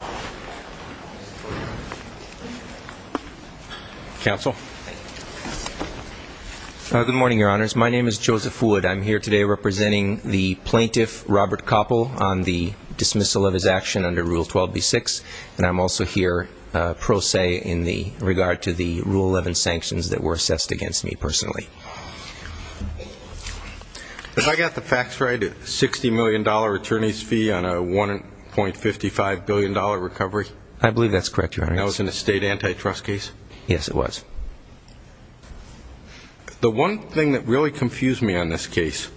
Plaintiff Robert Koppel on dismissal of his action under Rule 12.B. 6. I got the facts right, a $60 million attorney's fee on a $1.55 billion recovery? I believe that's correct, Your Honor. That was in a state antitrust case? Yes, it was. The one thing that really confused me on this case,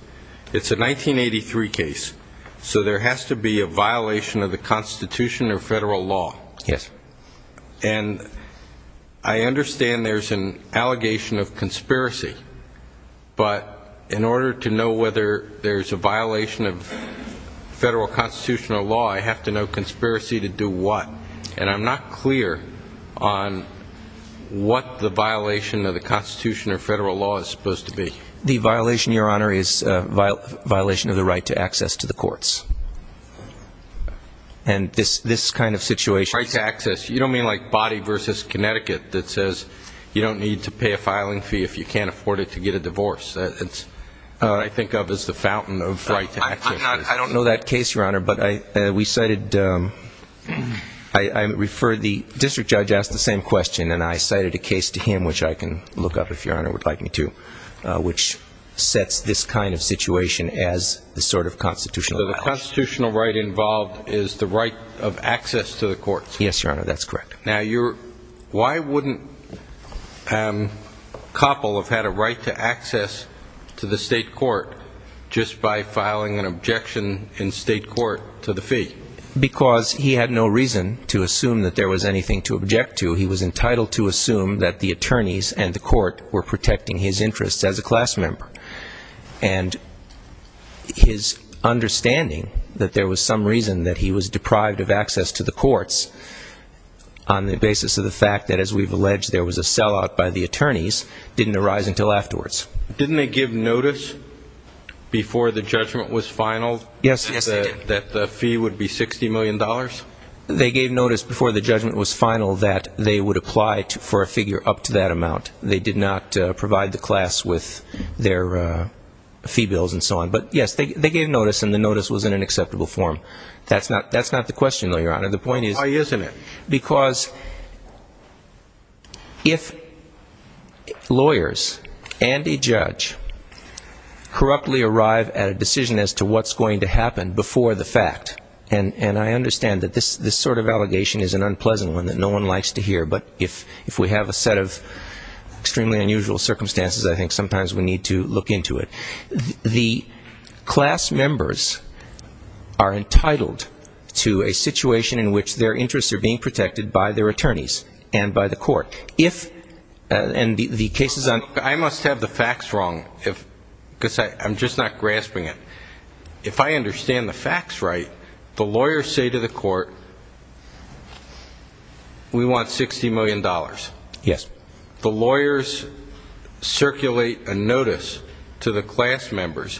it's a 1983 case, so there has to be a violation of the Constitution or federal law. Yes. And I understand there's an allegation of conspiracy, but in order to know whether there's a violation of federal constitutional law, I have to know conspiracy to do what. And I'm not clear on what the violation of the Constitution or federal law is supposed to be. The violation, Your Honor, is a violation of the right to access to the courts. And this kind of situation. Right to access. You don't mean like body versus Connecticut that says you don't need to pay a filing fee if you can't afford it to get a divorce. That's what I think of as the fountain of right to access. I don't know that case, Your Honor, but we cited, I referred, the district judge asked the same question and I cited a case to him which I can look up if Your Honor would like me to, which sets this kind of situation as the sort of constitutional violation. So the constitutional right involved is the right of access to the courts. Yes, Your Honor, that's correct. Now, why wouldn't Koppel have had a right to access to the state court just by filing an objection in state court to the fee? Because he had no reason to assume that there was anything to object to. He was entitled to assume that the attorneys and the court were protecting his interests as a class member. And his understanding that there was some reason that he was deprived of access to the courts on the basis of the fact that, as we've alleged, there was a sellout by the attorneys didn't arise until afterwards. Didn't they give notice before the judgment was final that the fee would be $60 million? They gave notice before the judgment was final that they would apply for a figure up to that amount. They did not provide the class with their fee bills and so on. But, yes, they gave notice and the notice was in an acceptable form. That's not the question, though, Your Honor. The point is Why isn't it? Because if lawyers and a judge corruptly arrive at a decision as to what's going to happen before the fact, and I understand that this sort of allegation is an unpleasant one that no one likes to hear, but if we have a set of extremely unusual circumstances, I think sometimes we need to look into it. The class members are entitled to a situation in which their interests are being protected by their attorneys and by the court. If, and the case is on. I must have the facts wrong because I'm just not grasping it. If I understand the facts right, the lawyers say to the court, we want $60 million. Yes. The lawyers circulate a notice to the class members.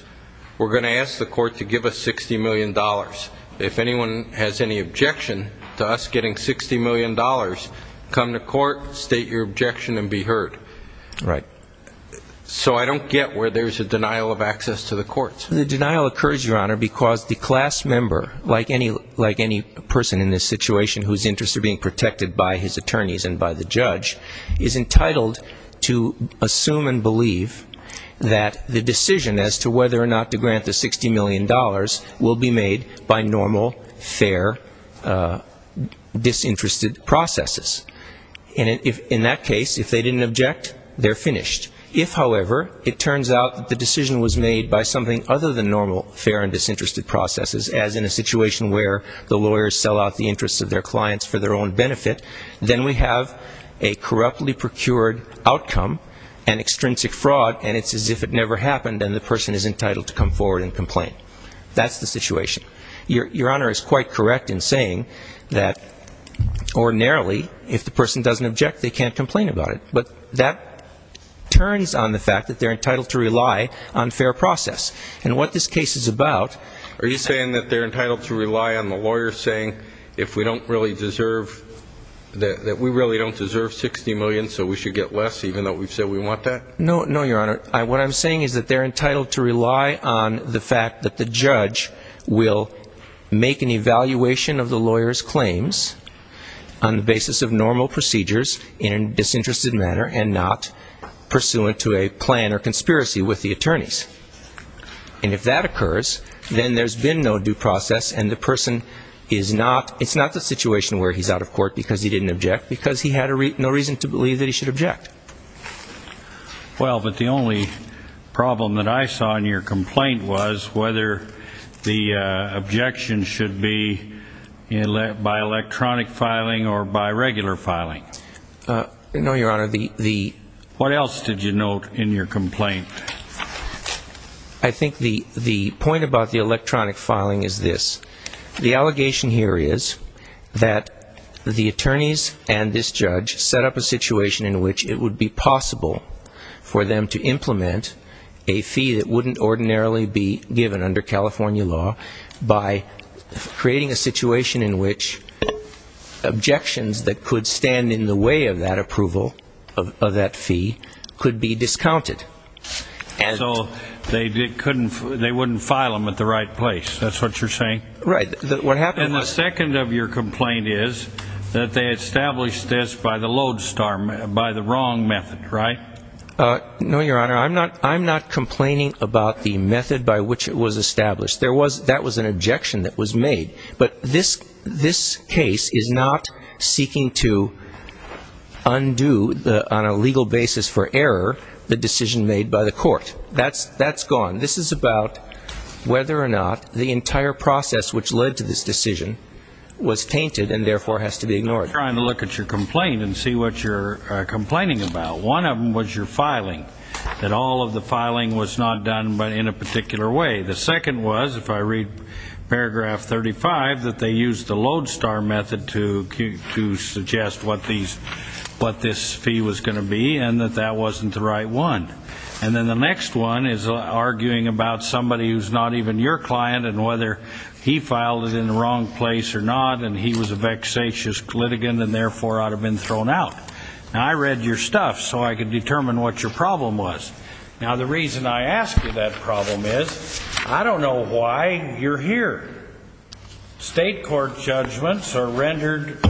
We're going to ask the court to give us $60 million. If anyone has any objection to us getting $60 million, come to court, state your objection and be heard. Right. So I don't get where there's a denial of access to the courts. The denial occurs, Your Honor, because the class member, like any person in this situation whose interests are being protected by his attorneys and by the judge, is entitled to assume and believe that the decision as to whether or not to grant the $60 million will be made by normal, fair, disinterested processes. In that case, if they didn't object, they're finished. If, however, it turns out that the decision was made by something other than normal, fair and disinterested processes, as in a situation where the lawyers sell out the interests of their clients for their own benefit, then we have a corruptly procured outcome, an extrinsic fraud, and it's as if it never happened and the person is entitled to come forward and complain. That's the situation. Your Honor is quite correct in saying that ordinarily, if the person doesn't object, they can't complain about it. But that turns on the fact that they're entitled to rely on fair process. And what this case is about Are you saying that they're entitled to rely on the lawyers saying, if we don't really deserve, that we really don't deserve $60 million, so we should get less even though we've said we want that? No, Your Honor. What I'm saying is that they're entitled to rely on the fact that the judge will make an evaluation of the lawyer's claims on the basis of normal procedures in a disinterested manner and not pursuant to a plan or conspiracy with the attorneys. And if that occurs, then there's been no due process and the person is not, it's not the situation where he's out of court because he didn't object, because he had no reason to believe that he should object. Well, but the only problem that I saw in your complaint was whether the objection should be by electronic filing or by regular filing. No, Your Honor, the What else did you note in your complaint? I think the the point about the electronic filing is this. The allegation here is that the attorneys and this judge set up a situation in which it would be possible for them to implement a fee that wouldn't ordinarily be given under California law by creating a situation in which objections that could stand in the way of that approval of that fee could be discounted. And so they couldn't, they wouldn't file them at the right place. That's what you're saying? Right. What happened was And the second of your complaint is that they established this by the Lodestar, by the wrong method, right? No, Your Honor, I'm not, I'm not complaining about the method by which it was established. There was, that was an objection that was made. But this, this case is not seeking to undo the, on a legal basis for error, the decision made by the court. That's, that's gone. This is about whether or not the entire process which led to this decision was tainted and therefore has to be ignored. We're trying to look at your complaint and see what you're complaining about. One of them was your filing, that all of the filing was not done in a particular way. The second was, if I read paragraph 35, that they used the Lodestar method to suggest what these, what this fee was going to be and that that wasn't the right one. And then the next one is arguing about somebody who's not even your client and whether he filed it in the wrong place or not and he was a vexatious litigant and therefore ought to have been thrown out. Now I read your stuff so I could determine what your problem was. Now the reason I ask you that problem is, I don't know why you're here. State court judgments are rendered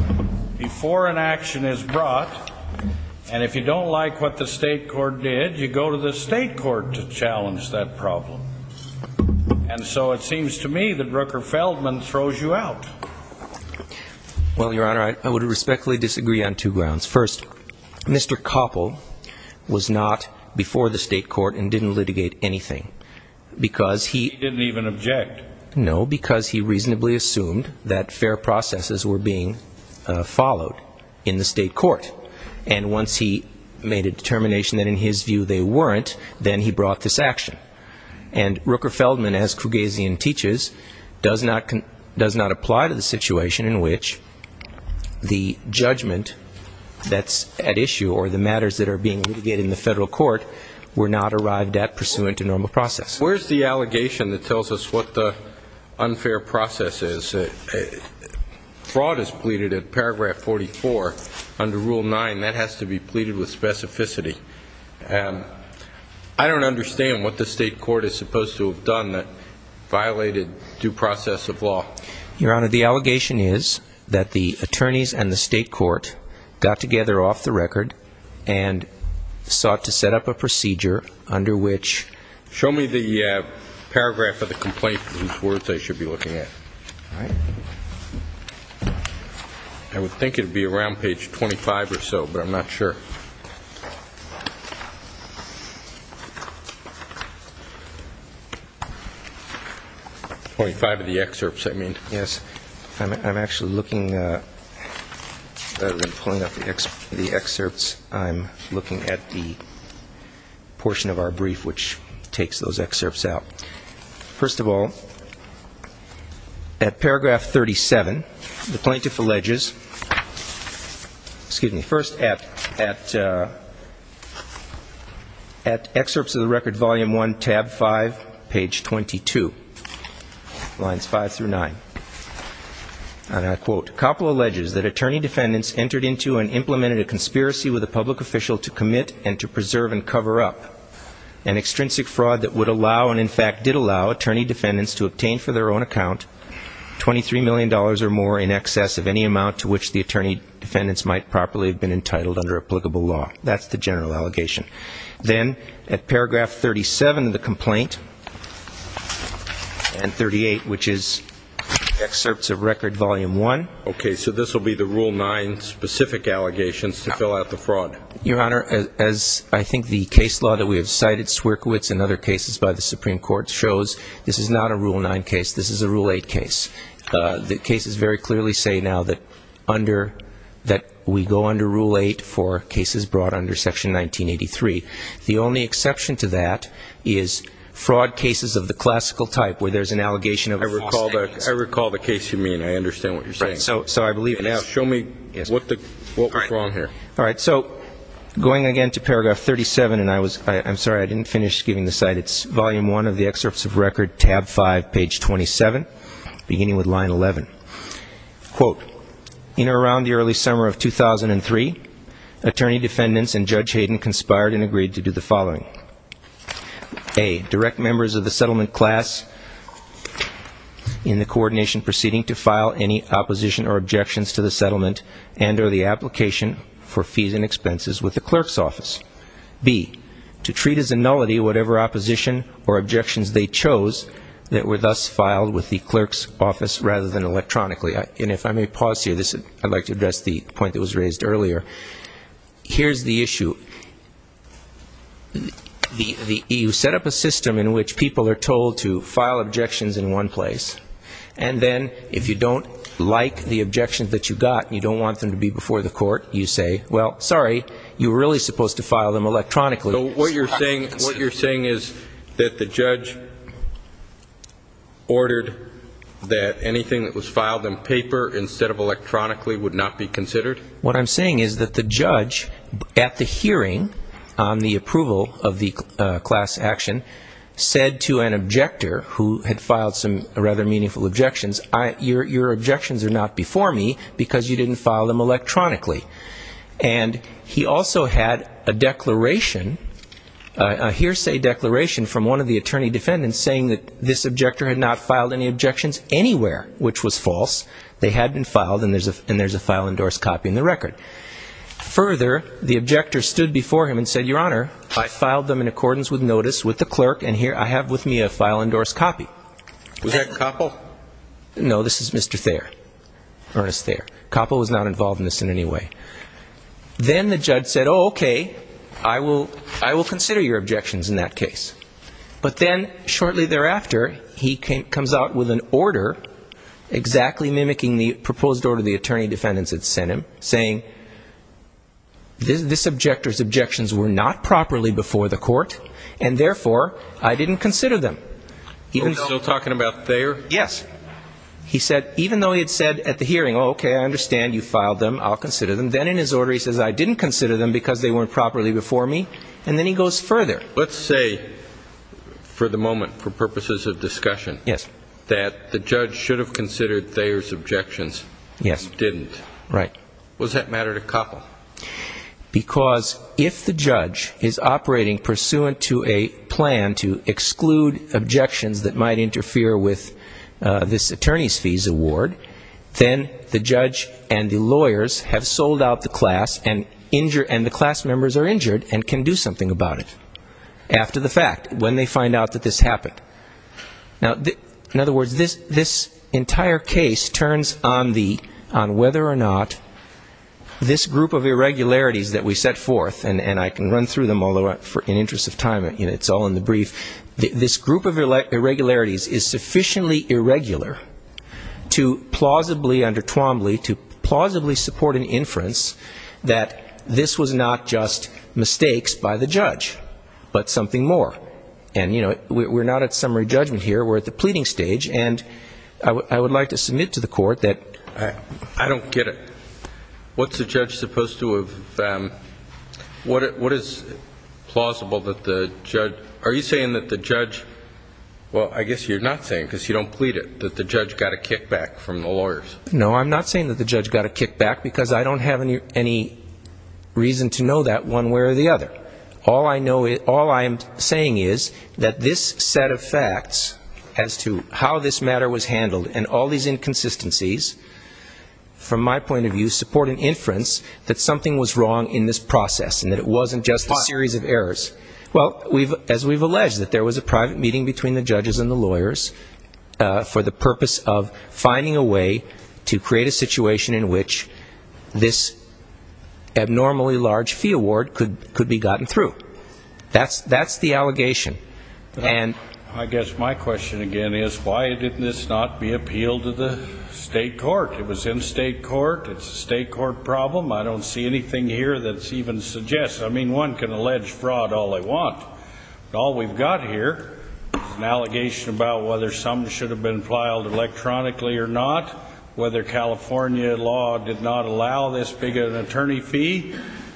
before an action is brought. And if you don't like what the state court did, you go to the state court to challenge that problem. And so it seems to me that Rooker Feldman throws you out. Well, Your Honor, I would respectfully disagree on two grounds. First, Mr. Koppel was not before the state court and didn't litigate anything. Because he didn't even object. No, because he reasonably assumed that fair processes were being followed in the state court. And once he made a determination that in his view they weren't, then he brought this action. And Rooker Feldman, as Krugazian teaches, does not apply to the situation in which the judgment that's at issue or the matters that are being litigated in the federal court were not arrived at pursuant to normal process. Where's the allegation that tells us what the unfair process is? Fraud is pleaded at paragraph 44 under Rule 9. That has to be pleaded with specificity. I don't understand what the state court is supposed to have done that violated due process of law. Your Honor, the allegation is that the attorneys and the state court got together off the record and sought to set up a procedure under which – Show me the paragraph of the complaint whose words I should be looking at. I would think it would be around page 25 or so, but I'm not sure. 25 of the excerpts, I mean. Yes, I'm actually looking – rather than pulling up the excerpts, I'm looking at the portion of our brief which takes those excerpts out. First of all, at paragraph 37, the plaintiff alleges – excuse me – first, at excerpts of the record volume 1, tab 5, page 22, lines 5 through 9. And I quote, Coppola alleges that attorney defendants entered into and implemented a conspiracy with a public official to commit and to preserve and cover up an extrinsic fraud that would allow and, in fact, did allow attorney defendants to obtain for their own account $23 million or more in excess of any amount to which the attorney defendants might properly have been entitled under applicable law. That's the general allegation. Then, at paragraph 37 of the complaint, and 38, which is excerpts of record volume 1. Okay, so this will be the Rule 9 specific allegations to fill out the fraud. Your Honor, as I think the case law that we have cited, Swierkiewicz and other cases by the Supreme Court shows, this is not a Rule 9 case. This is a Rule 8 case. The cases very clearly say now that under – that we go under Rule 8 for cases brought under Section 1983. The only exception to that is fraud cases of the classical type where there's an allegation of false statements. I recall the case you mean. I understand what you're saying. So I believe – Show me what was wrong here. All right. So going again to paragraph 37, and I was – I'm sorry, I didn't finish giving the cite. It's volume 1 of the excerpts of record, tab 5, page 27, beginning with line 11. Quote, in or around the early summer of 2003, attorney defendants and Judge Hayden conspired and agreed to do the following. A, direct members of the settlement class in the coordination proceeding to file any opposition or objections to the settlement and or the application for fees and expenses with the clerk's office. B, to treat as a nullity whatever opposition or objections they chose that were thus filed with the clerk's office rather than electronically. And if I may pause here, I'd like to address the point that was raised earlier. Here's the issue. You set up a system in which people are told to file objections in one place, and then if you don't like the objections that you got and you don't want them to be before the court, you say, well, sorry, you were really supposed to file them electronically. So what you're saying is that the judge ordered that anything that was filed on paper instead of electronically would not be considered? What I'm saying is that the judge at the hearing on the approval of the class action said to an objector who had filed some rather meaningful objections, your objections are not before me because you didn't file them electronically. And he also had a declaration, a hearsay declaration from one of the attorney defendants saying that this objector had not filed any objections anywhere, which was false. They had been filed, and there's a file-endorsed copy in the record. Further, the objector stood before him and said, Your Honor, I filed them in accordance with notice with the clerk, and here I have with me a file-endorsed copy. Was that Koppel? No, this is Mr. Thayer, Ernest Thayer. Koppel was not involved in this in any way. Then the judge said, Oh, okay, I will consider your objections in that case. But then shortly thereafter, he comes out with an order exactly mimicking the proposed order the attorney defendants had sent him, saying this objector's objections were not properly before the court, and therefore, I didn't consider them. Are we still talking about Thayer? Yes. He said, even though he had said at the hearing, Oh, okay, I understand you filed them. I'll consider them. Then in his order, he says, I didn't consider them because they weren't properly before me. And then he goes further. Let's say for the moment, for purposes of discussion, that the judge should have considered Thayer's objections. Yes. He didn't. Right. Was that matter to Koppel? Because if the judge is operating pursuant to a plan to exclude objections that might interfere with this attorney's fees award, then the judge and the lawyers have sold out the class, and the class members are injured and can do something about it. After the fact, when they find out that this happened. Now, in other words, this entire case turns on whether or not this group of irregularities that we set forth, and I can run through them, although in the interest of time, it's all in the brief. This group of irregularities is sufficiently irregular to plausibly, under Twombly, to plausibly support an inference that this was not just mistakes by the judge, but something more. And, you know, we're not at summary judgment here. We're at the pleading stage. And I would like to submit to the court that. I don't get it. What's the judge supposed to have. What is plausible that the judge. Are you saying that the judge. Well, I guess you're not saying because you don't plead it that the judge got a kickback from the lawyers. No, I'm not saying that the judge got a kickback because I don't have any reason to know that one way or the other. But all I know is all I'm saying is that this set of facts as to how this matter was handled and all these inconsistencies. From my point of view, support an inference that something was wrong in this process and that it wasn't just a series of errors. Well, we've as we've alleged that there was a private meeting between the judges and the lawyers for the purpose of finding a way to create a situation in which this abnormally large fee award could could be gotten through. That's that's the allegation. And I guess my question, again, is why did this not be appealed to the state court? It was in state court. It's a state court problem. I don't see anything here that's even suggest. I mean, one can allege fraud all they want. All we've got here is an allegation about whether some should have been filed electronically or not, whether California law did not allow this big an attorney fee.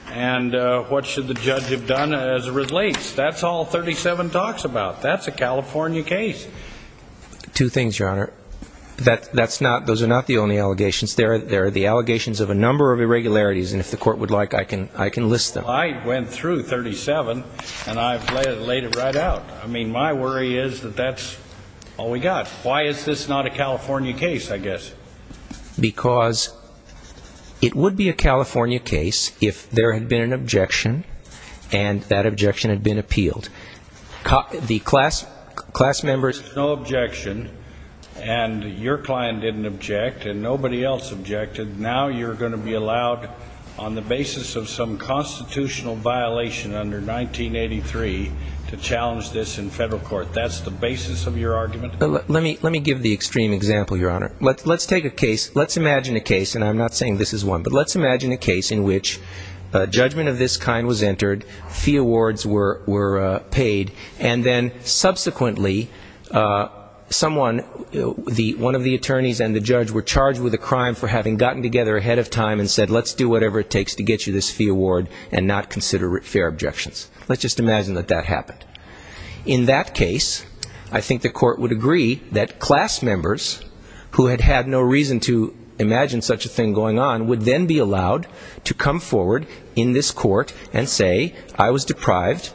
And what should the judge have done as it relates? That's all 37 talks about. That's a California case. Two things, Your Honor, that that's not those are not the only allegations there. There are the allegations of a number of irregularities. And if the court would like, I can I can list them. I went through 37 and I've laid it right out. I mean, my worry is that that's all we got. Why is this not a California case? I guess because it would be a California case if there had been an objection and that objection had been appealed. The class class members. No objection. And your client didn't object and nobody else objected. Now you're going to be allowed on the basis of some constitutional violation under 1983 to challenge this in federal court. That's the basis of your argument. Let me let me give the extreme example, Your Honor. Let's take a case. Let's imagine a case. And I'm not saying this is one. But let's imagine a case in which a judgment of this kind was entered. Fee awards were were paid. And then subsequently someone the one of the attorneys and the judge were charged with a crime for having gotten together ahead of time and said, let's do whatever it takes to get you this fee award and not consider it fair objections. Let's just imagine that that happened in that case. I think the court would agree that class members who had had no reason to imagine such a thing going on would then be allowed to come forward in this court and say I was deprived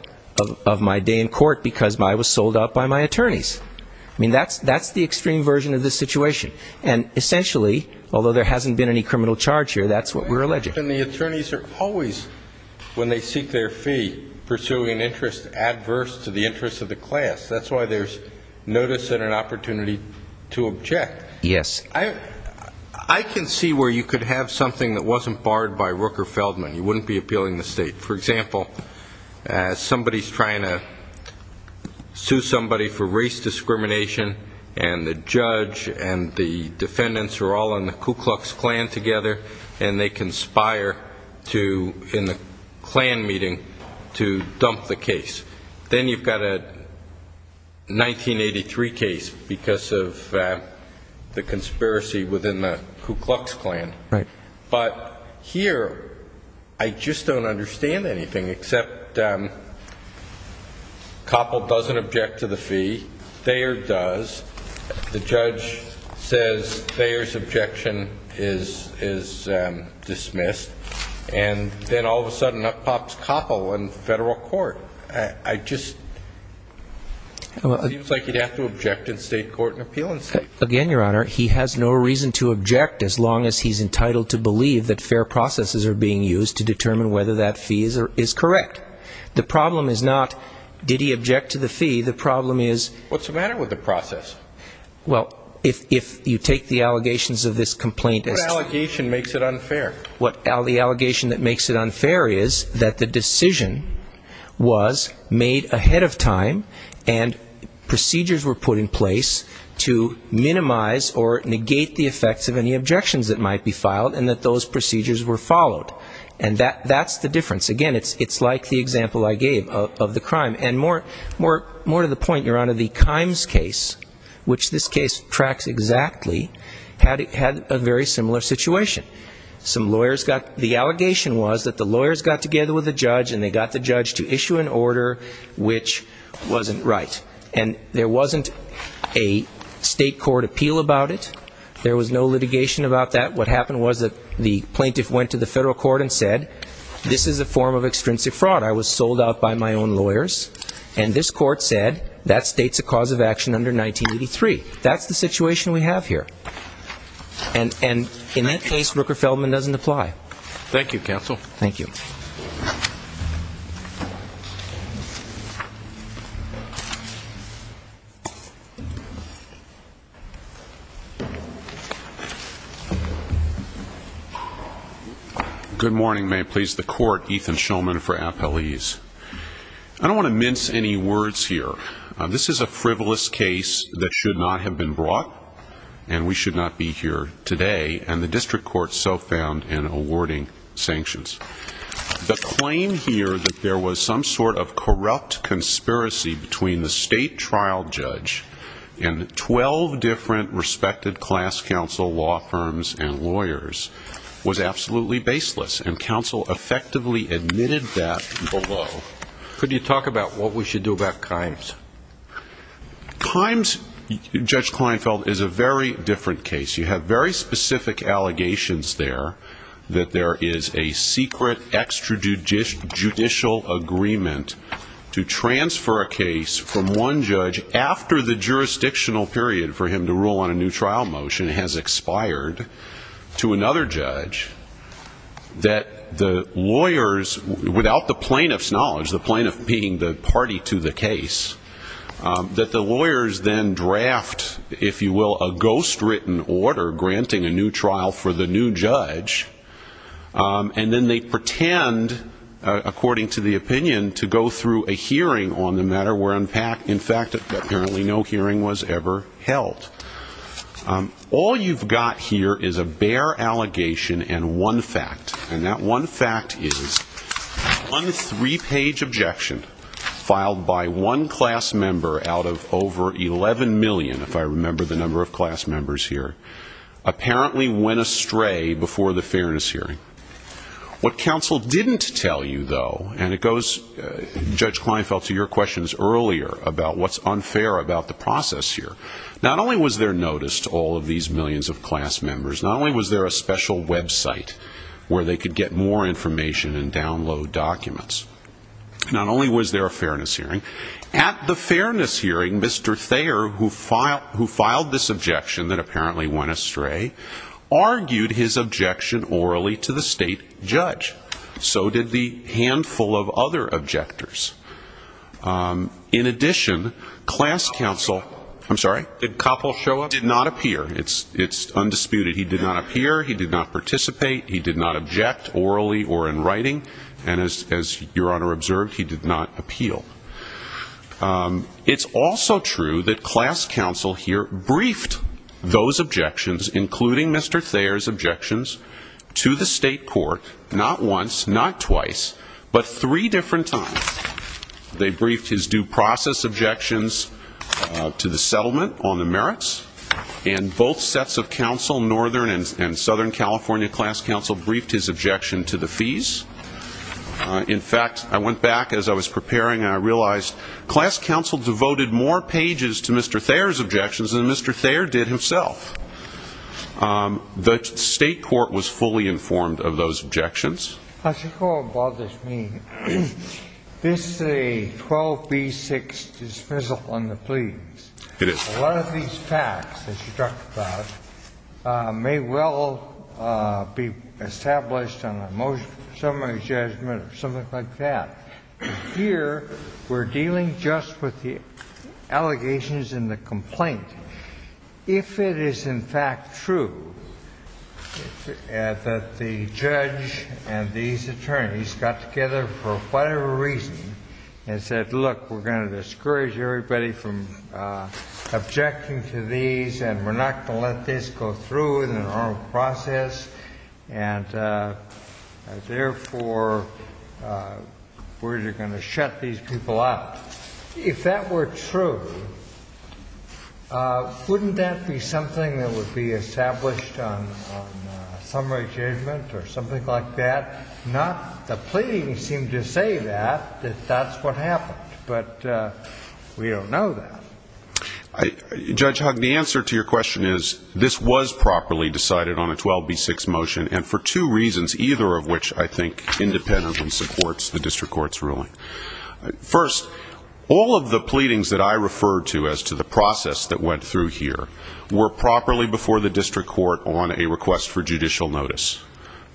of my day in court because I was sold out by my attorneys. I mean, that's that's the extreme version of this situation. And essentially, although there hasn't been any criminal charge here, that's what we're alleging. And the attorneys are always, when they seek their fee, pursuing interest adverse to the interests of the class. That's why there's notice and an opportunity to object. Yes. I can see where you could have something that wasn't barred by Rooker Feldman. You wouldn't be appealing the state. For example, somebody's trying to sue somebody for race discrimination, and the judge and the defendants are all in the Ku Klux Klan together and they conspire to in the Klan meeting to dump the case. Then you've got a 1983 case because of the conspiracy within the Ku Klux Klan. Right. But here I just don't understand anything except Koppel doesn't object to the fee. Thayer does. The judge says Thayer's objection is dismissed. And then all of a sudden up pops Koppel in federal court. I just, it seems like you'd have to object in state court and appeal in state court. Again, Your Honor, he has no reason to object as long as he's entitled to believe that fair processes are being used to determine whether that fee is correct. The problem is not did he object to the fee. The problem is what's the matter with the process? Well, if you take the allegations of this complaint. What allegation makes it unfair? The allegation that makes it unfair is that the decision was made ahead of time and procedures were put in place to minimize or negate the effects of any objections that might be filed and that those procedures were followed. And that's the difference. Again, it's like the example I gave of the crime. And more to the point, Your Honor, the Kimes case, which this case tracks exactly, had a very similar situation. Some lawyers got, the allegation was that the lawyers got together with the judge and they got the judge to issue an order which wasn't right. And there wasn't a state court appeal about it. There was no litigation about that. What happened was that the plaintiff went to the federal court and said, this is a form of extrinsic fraud. I was sold out by my own lawyers. And this court said, that states a cause of action under 1983. That's the situation we have here. And in that case, Rooker-Feldman doesn't apply. Thank you, counsel. Thank you. Good morning, may it please the court. Ethan Shulman for Appalese. I don't want to mince any words here. This is a frivolous case that should not have been brought. And we should not be here today. And the district court so found in awarding sanctions. The claim here that there was some sort of corrupt conspiracy between the state trial judge and 12 different respected class counsel, law firms, and lawyers was absolutely baseless. And counsel effectively admitted that below. Could you talk about what we should do about crimes? Crimes, Judge Kleinfeld, is a very different case. You have very specific allegations there that there is a secret extrajudicial agreement to transfer a case from one judge after the jurisdictional period for him to rule on a new trial motion has expired to another judge. That the lawyers, without the plaintiff's knowledge, the plaintiff being the party to the case, that the lawyers then draft, if you will, a ghostwritten order granting a new trial for the new judge. And then they pretend, according to the opinion, to go through a hearing on the matter where, in fact, apparently no hearing was ever held. All you've got here is a bare allegation and one fact. And that one fact is one three-page objection filed by one class member out of over 11 million, if I remember the number of class members here, apparently went astray before the fairness hearing. What counsel didn't tell you, though, and it goes, Judge Kleinfeld, to your questions earlier about what's unfair about the process here. Not only was there notice to all of these millions of class members, not only was there a special website where they could get more information and download documents, not only was there a fairness hearing. At the fairness hearing, Mr. Thayer, who filed this objection that apparently went astray, argued his objection orally to the state judge. So did the handful of other objectors. In addition, class counsel did not appear. It's undisputed. He did not appear. He did not participate. He did not object orally or in writing. And as your honor observed, he did not appeal. It's also true that class counsel here briefed those objections, including Mr. Thayer's objections, to the state court not once, not twice, but three different times. They briefed his due process objections to the settlement on the merits. And both sets of counsel, Northern and Southern California class counsel, briefed his objection to the fees. In fact, I went back as I was preparing and I realized class counsel devoted more pages to Mr. Thayer's objections than Mr. Thayer did himself. The state court was fully informed of those objections. This is a 12B6 dismissal on the pleas. It is. A lot of these facts, as you talked about, may well be established on a motion of summary judgment or something like that. Here, we're dealing just with the allegations in the complaint. If it is, in fact, true that the judge and these attorneys got together for whatever reason and said, look, we're going to discourage everybody from objecting to these and we're not going to let this go through in the normal process. And therefore, we're going to shut these people out. If that were true, wouldn't that be something that would be established on summary judgment or something like that? Not the pleading seemed to say that, that that's what happened. But we don't know that. Judge Hugg, the answer to your question is this was properly decided on a 12B6 motion and for two reasons, either of which I think independence supports the district court's ruling. First, all of the pleadings that I referred to as to the process that went through here were properly before the district court on a request for judicial notice.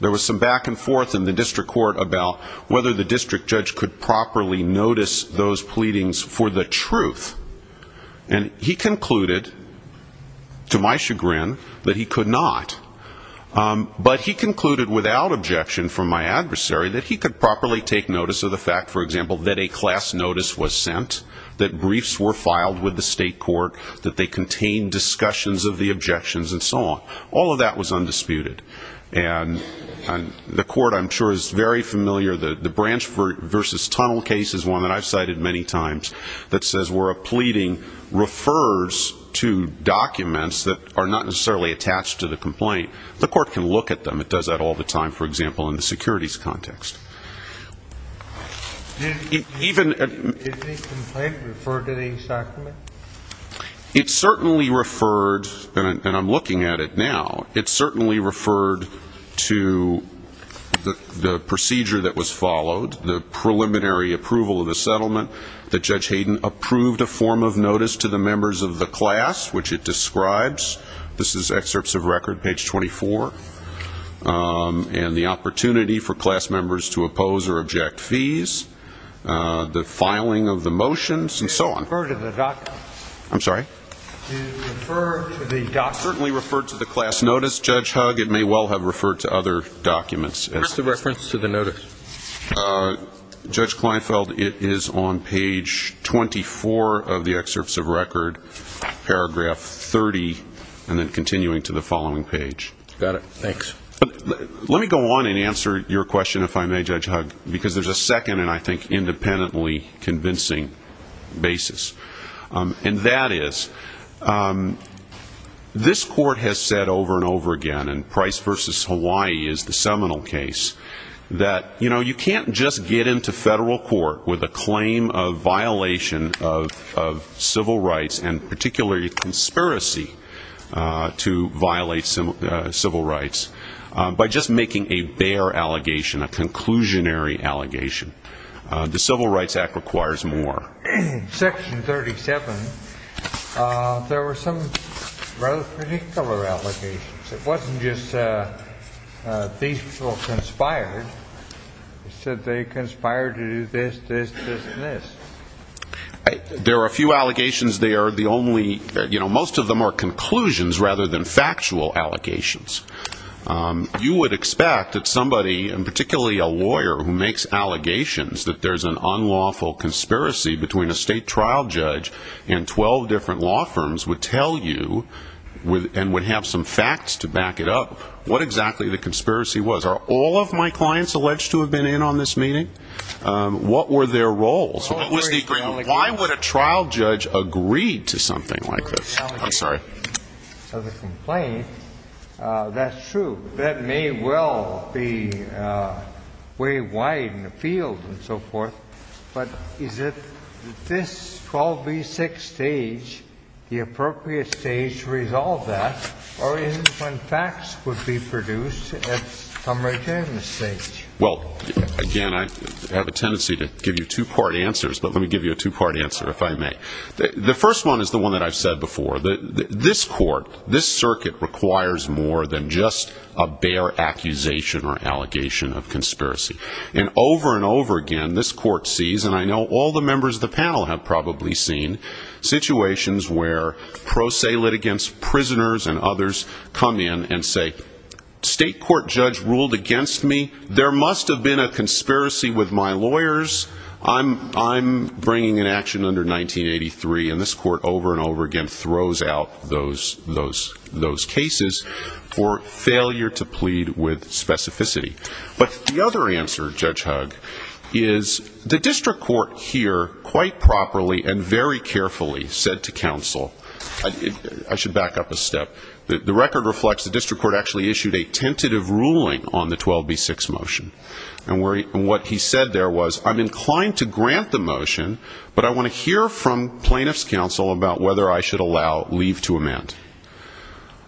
There was some back and forth in the district court about whether the district judge could properly notice those pleadings for the truth. And he concluded, to my chagrin, that he could not. But he concluded without objection from my adversary that he could properly take notice of the fact, for example, that a class notice was sent, that briefs were filed with the state court, that they contained discussions of the objections and so on. All of that was undisputed. And the court, I'm sure, is very familiar, the Branch v. Tunnel case is one that I've cited many times, that says where a pleading refers to documents that are not necessarily attached to the complaint. The court can look at them. It does that all the time, for example, in the securities context. Even at the... Did the complaint refer to these documents? It certainly referred, and I'm looking at it now, it certainly referred to the procedure that was followed, the preliminary approval of the settlement, that Judge Hayden approved a form of notice to the members of the class, which it describes. This is excerpts of record, page 24. And the opportunity for class members to oppose or object fees, the filing of the motions, and so on. Did it refer to the documents? I'm sorry? Did it refer to the documents? It certainly referred to the class notice, Judge Hugg. It may well have referred to other documents. What's the reference to the notice? Judge Kleinfeld, it is on page 24 of the excerpts of record, paragraph 30, and then continuing to the following page. Got it. Thanks. Let me go on and answer your question, if I may, Judge Hugg, because there's a second and, I think, independently convincing basis. And that is, this court has said over and over again, and Price v. Hawaii is the seminal case, that you can't just get into federal court with a claim of violation of civil rights, and particularly conspiracy to violate civil rights, by just making a bare allegation, a conclusionary allegation. The Civil Rights Act requires more. Section 37, there were some rather particular allegations. It wasn't just these people conspired. It said they conspired to do this, this, this, and this. There are a few allegations there. Most of them are conclusions rather than factual allegations. You would expect that somebody, and particularly a lawyer who makes allegations, that there's an unlawful conspiracy between a state trial judge and 12 different law firms would tell you, and would have some facts to back it up, what exactly the conspiracy was. Are all of my clients alleged to have been in on this meeting? What were their roles? Why would a trial judge agree to something like this? I'm sorry. Well, again, I have a tendency to give you two-part answers, but let me give you a two-part answer, if I may. The first one is the one that I've said before. This court, this circuit, requires more than just a bare accusation or allegation of conspiracy. And over and over again, this court sees, and I know all the members of the panel have probably seen, situations where pro se litigants, prisoners, and others come in and say, State court judge ruled against me. There must have been a conspiracy with my lawyers. I'm bringing an action under 1983. And this court over and over again throws out those cases for failure to plead with specificity. But the other answer, Judge Hugg, is the district court here quite properly and very carefully said to counsel, I should back up a step, the record reflects the district court actually issued a tentative ruling on the 12B6 motion. And what he said there was, I'm inclined to grant the motion, but I want to hear from plaintiff's counsel about whether I should allow leave to amend.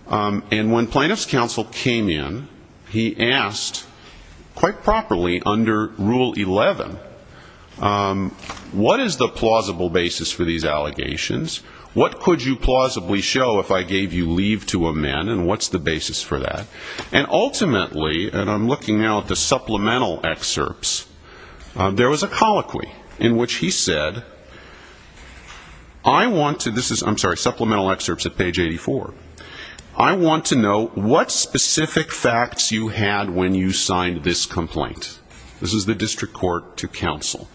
And when plaintiff's counsel came in, he asked quite properly under Rule 11, what is the plausible basis for these allegations? What could you plausibly show if I gave you leave to amend, and what's the basis for that? And ultimately, and I'm looking now at the supplemental excerpts, there was a colloquy in which he said, I want to, this is, I'm sorry, supplemental excerpts at page 84. I want to know what specific facts you had when you signed this complaint. This is the district court to counsel.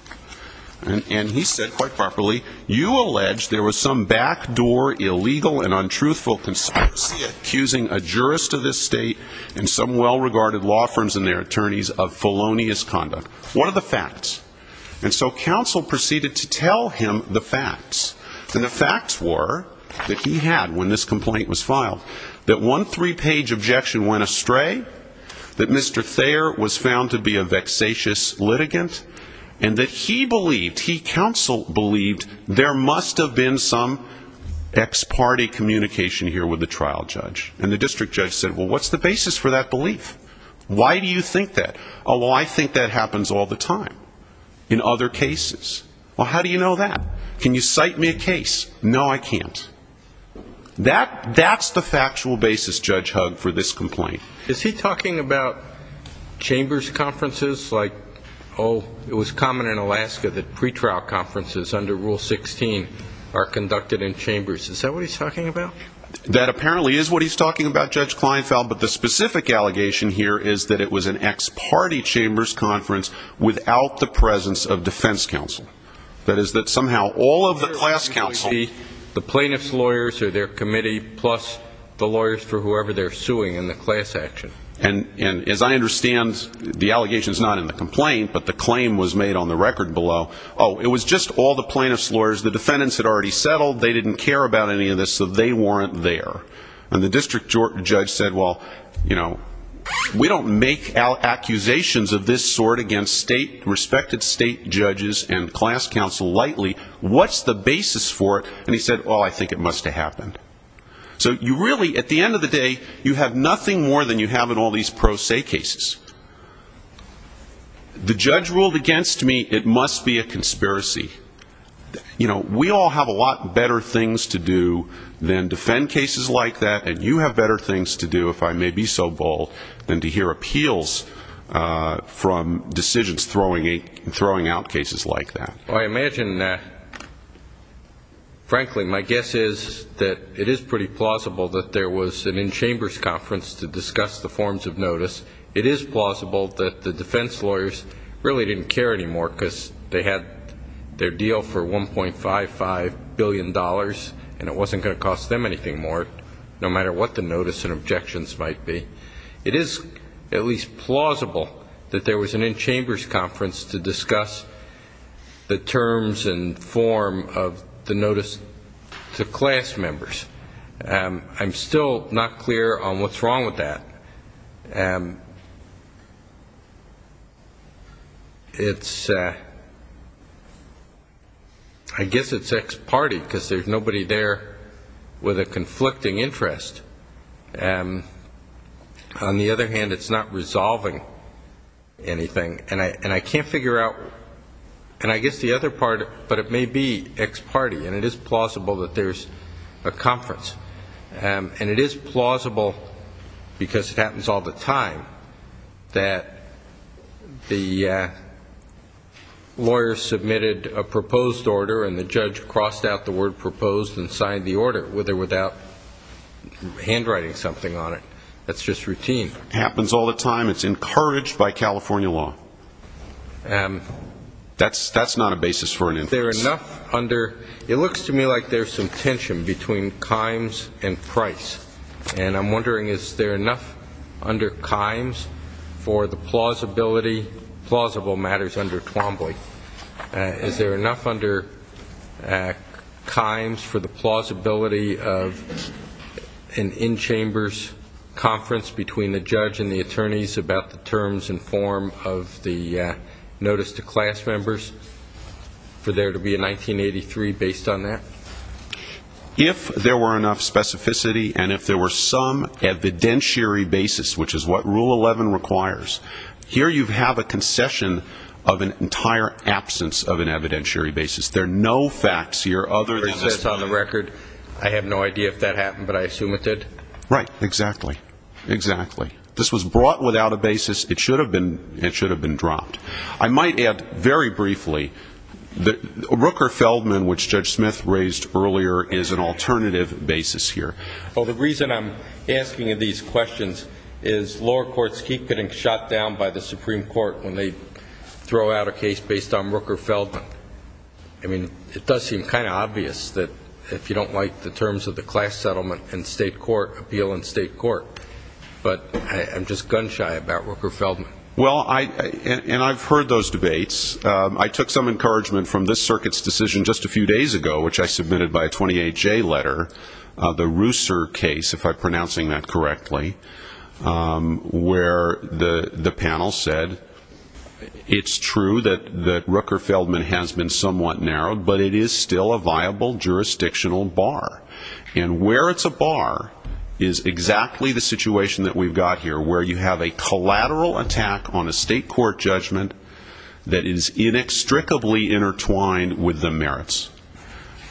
And he said quite properly, you allege there was some backdoor illegal and untruthful conspiracy accusing a jurist of this state and some well-regarded law firms and their attorneys of felonious conduct. What are the facts? And so counsel proceeded to tell him the facts. And the facts were that he had, when this complaint was filed, that one three-page objection went astray, that Mr. Thayer was found to be a vexatious litigant, and that he believed, he counsel believed, there must have been some ex-party communication here with the trial judge. And the district judge said, well, what's the basis for that belief? Why do you think that? Oh, well, I think that happens all the time in other cases. Well, how do you know that? Can you cite me a case? No, I can't. That's the factual basis, Judge Hugg, for this complaint. Is he talking about chambers conferences? Like, oh, it was common in Alaska that pretrial conferences under Rule 16 are conducted in chambers. Is that what he's talking about? That apparently is what he's talking about, Judge Kleinfeld. But the specific allegation here is that it was an ex-party chambers conference without the presence of defense counsel. That is that somehow all of the class counsel ---- the plaintiff's lawyers or their committee plus the lawyers for whoever they're suing in the class action. And as I understand, the allegation is not in the complaint, but the claim was made on the record below. Oh, it was just all the plaintiff's lawyers. The defendants had already settled. They didn't care about any of this, so they weren't there. And the district judge said, well, you know, we don't make accusations of this sort against state, respected state judges and class counsel lightly. What's the basis for it? And he said, well, I think it must have happened. So you really, at the end of the day, you have nothing more than you have in all these pro se cases. The judge ruled against me it must be a conspiracy. You know, we all have a lot better things to do than defend cases like that, and you have better things to do, if I may be so bold, than to hear appeals from decisions throwing out cases like that. Well, I imagine that, frankly, my guess is that it is pretty plausible that there was an in-chambers conference to discuss the forms of notice. It is plausible that the defense lawyers really didn't care anymore because they had their deal for $1.55 billion, and it wasn't going to cost them anything more, no matter what the notice and objections might be. It is at least plausible that there was an in-chambers conference to discuss the terms and form of the notice to class members. I'm still not clear on what's wrong with that. I guess it's ex parte because there's nobody there with a conflicting interest. On the other hand, it's not resolving anything. And I can't figure out, and I guess the other part, but it may be ex parte, and it is plausible that there's a conference. And it is plausible because it happens all the time. It happens all the time that the lawyer submitted a proposed order and the judge crossed out the word proposed and signed the order with or without handwriting something on it. That's just routine. It happens all the time. It's encouraged by California law. That's not a basis for an inference. It looks to me like there's some tension between times and price, and I'm wondering is there enough under times for the plausibility, plausible matters under Twombly, is there enough under times for the plausibility of an in-chambers conference between the judge and the attorneys about the terms and form of the notice to class members for there to be a 1983 based on that? If there were enough specificity and if there were some evidentiary basis, which is what Rule 11 requires, here you have a concession of an entire absence of an evidentiary basis. There are no facts here other than this one. I have no idea if that happened, but I assume it did. Right. Exactly. Exactly. This was brought without a basis. It should have been dropped. I might add very briefly that Rooker-Feldman, which Judge Smith raised earlier, is an alternative basis here. Well, the reason I'm asking you these questions is lower courts keep getting shot down by the Supreme Court when they throw out a case based on Rooker-Feldman. I mean, it does seem kind of obvious that if you don't like the terms of the class settlement in state court, appeal in state court, but I'm just gun-shy about Rooker-Feldman. Well, and I've heard those debates. I took some encouragement from this circuit's decision just a few days ago, which I submitted by a 28-J letter, the Rooser case, if I'm pronouncing that correctly, where the panel said it's true that Rooker-Feldman has been somewhat narrowed, but it is still a viable jurisdictional bar. And where it's a bar is exactly the situation that we've got here, where you have a collateral attack on a state court judgment that is inextricably intertwined with the merits.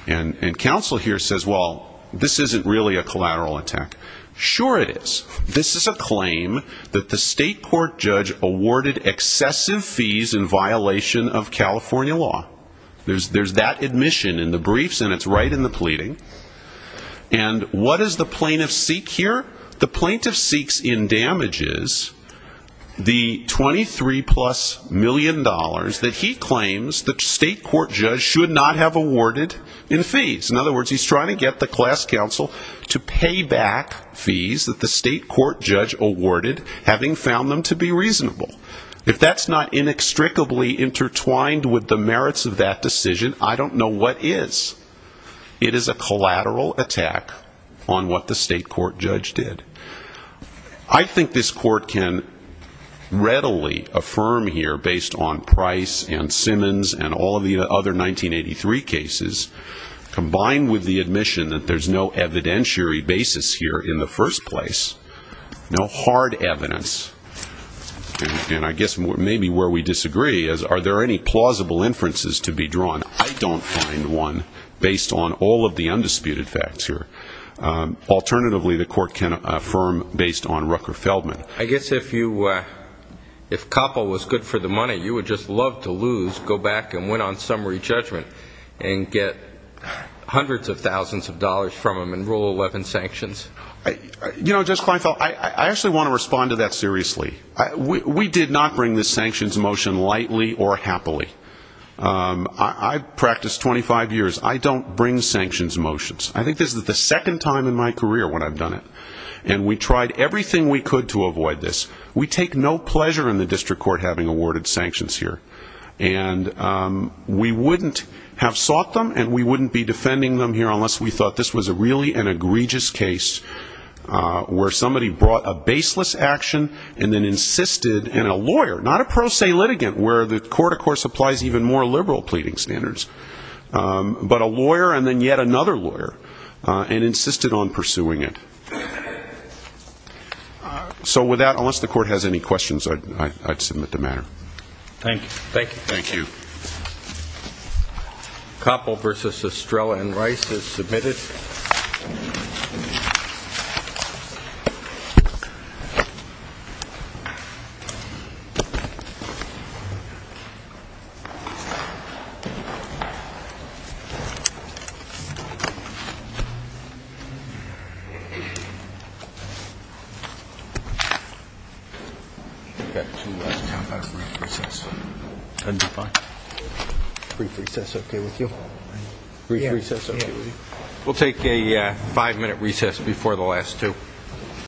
And counsel here says, well, this isn't really a collateral attack. Sure it is. This is a claim that the state court judge awarded excessive fees in violation of California law. There's that admission in the briefs, and it's right in the pleading. And what does the plaintiff seek here? The plaintiff seeks in damages the $23-plus million that he claims the state court judge should not have awarded in fees. In other words, he's trying to get the class counsel to pay back fees that the state court judge awarded, having found them to be reasonable. If that's not inextricably intertwined with the merits of that decision, I don't know what is. It is a collateral attack on what the state court judge did. I think this court can readily affirm here, based on Price and Simmons and all of the other 1983 cases, combined with the admission that there's no evidentiary basis here in the first place, no hard evidence. And I guess maybe where we disagree is, are there any plausible inferences to be drawn? I don't find one, based on all of the undisputed facts here. Alternatively, the court can affirm, based on Rucker-Feldman. I guess if you, if Coppell was good for the money, you would just love to lose, go back and win on summary judgment, and get hundreds of thousands of dollars from him and rule 11 sanctions. You know, Judge Kleinfeld, I actually want to respond to that seriously. We did not bring this sanctions motion lightly or happily. I've practiced 25 years. I don't bring sanctions motions. I think this is the second time in my career when I've done it. And we tried everything we could to avoid this. We take no pleasure in the district court having awarded sanctions here. And we wouldn't have sought them, and we wouldn't be defending them here, unless we thought this was really an egregious case where somebody brought a baseless action and then insisted, and a lawyer, not a pro se litigant, where the court, of course, applies even more liberal pleading standards, but a lawyer and then yet another lawyer, and insisted on pursuing it. So with that, unless the court has any questions, I'd submit the matter. Thank you. Koppel v. Estrella and Rice is submitted. We'll take a five-minute recess before the last two.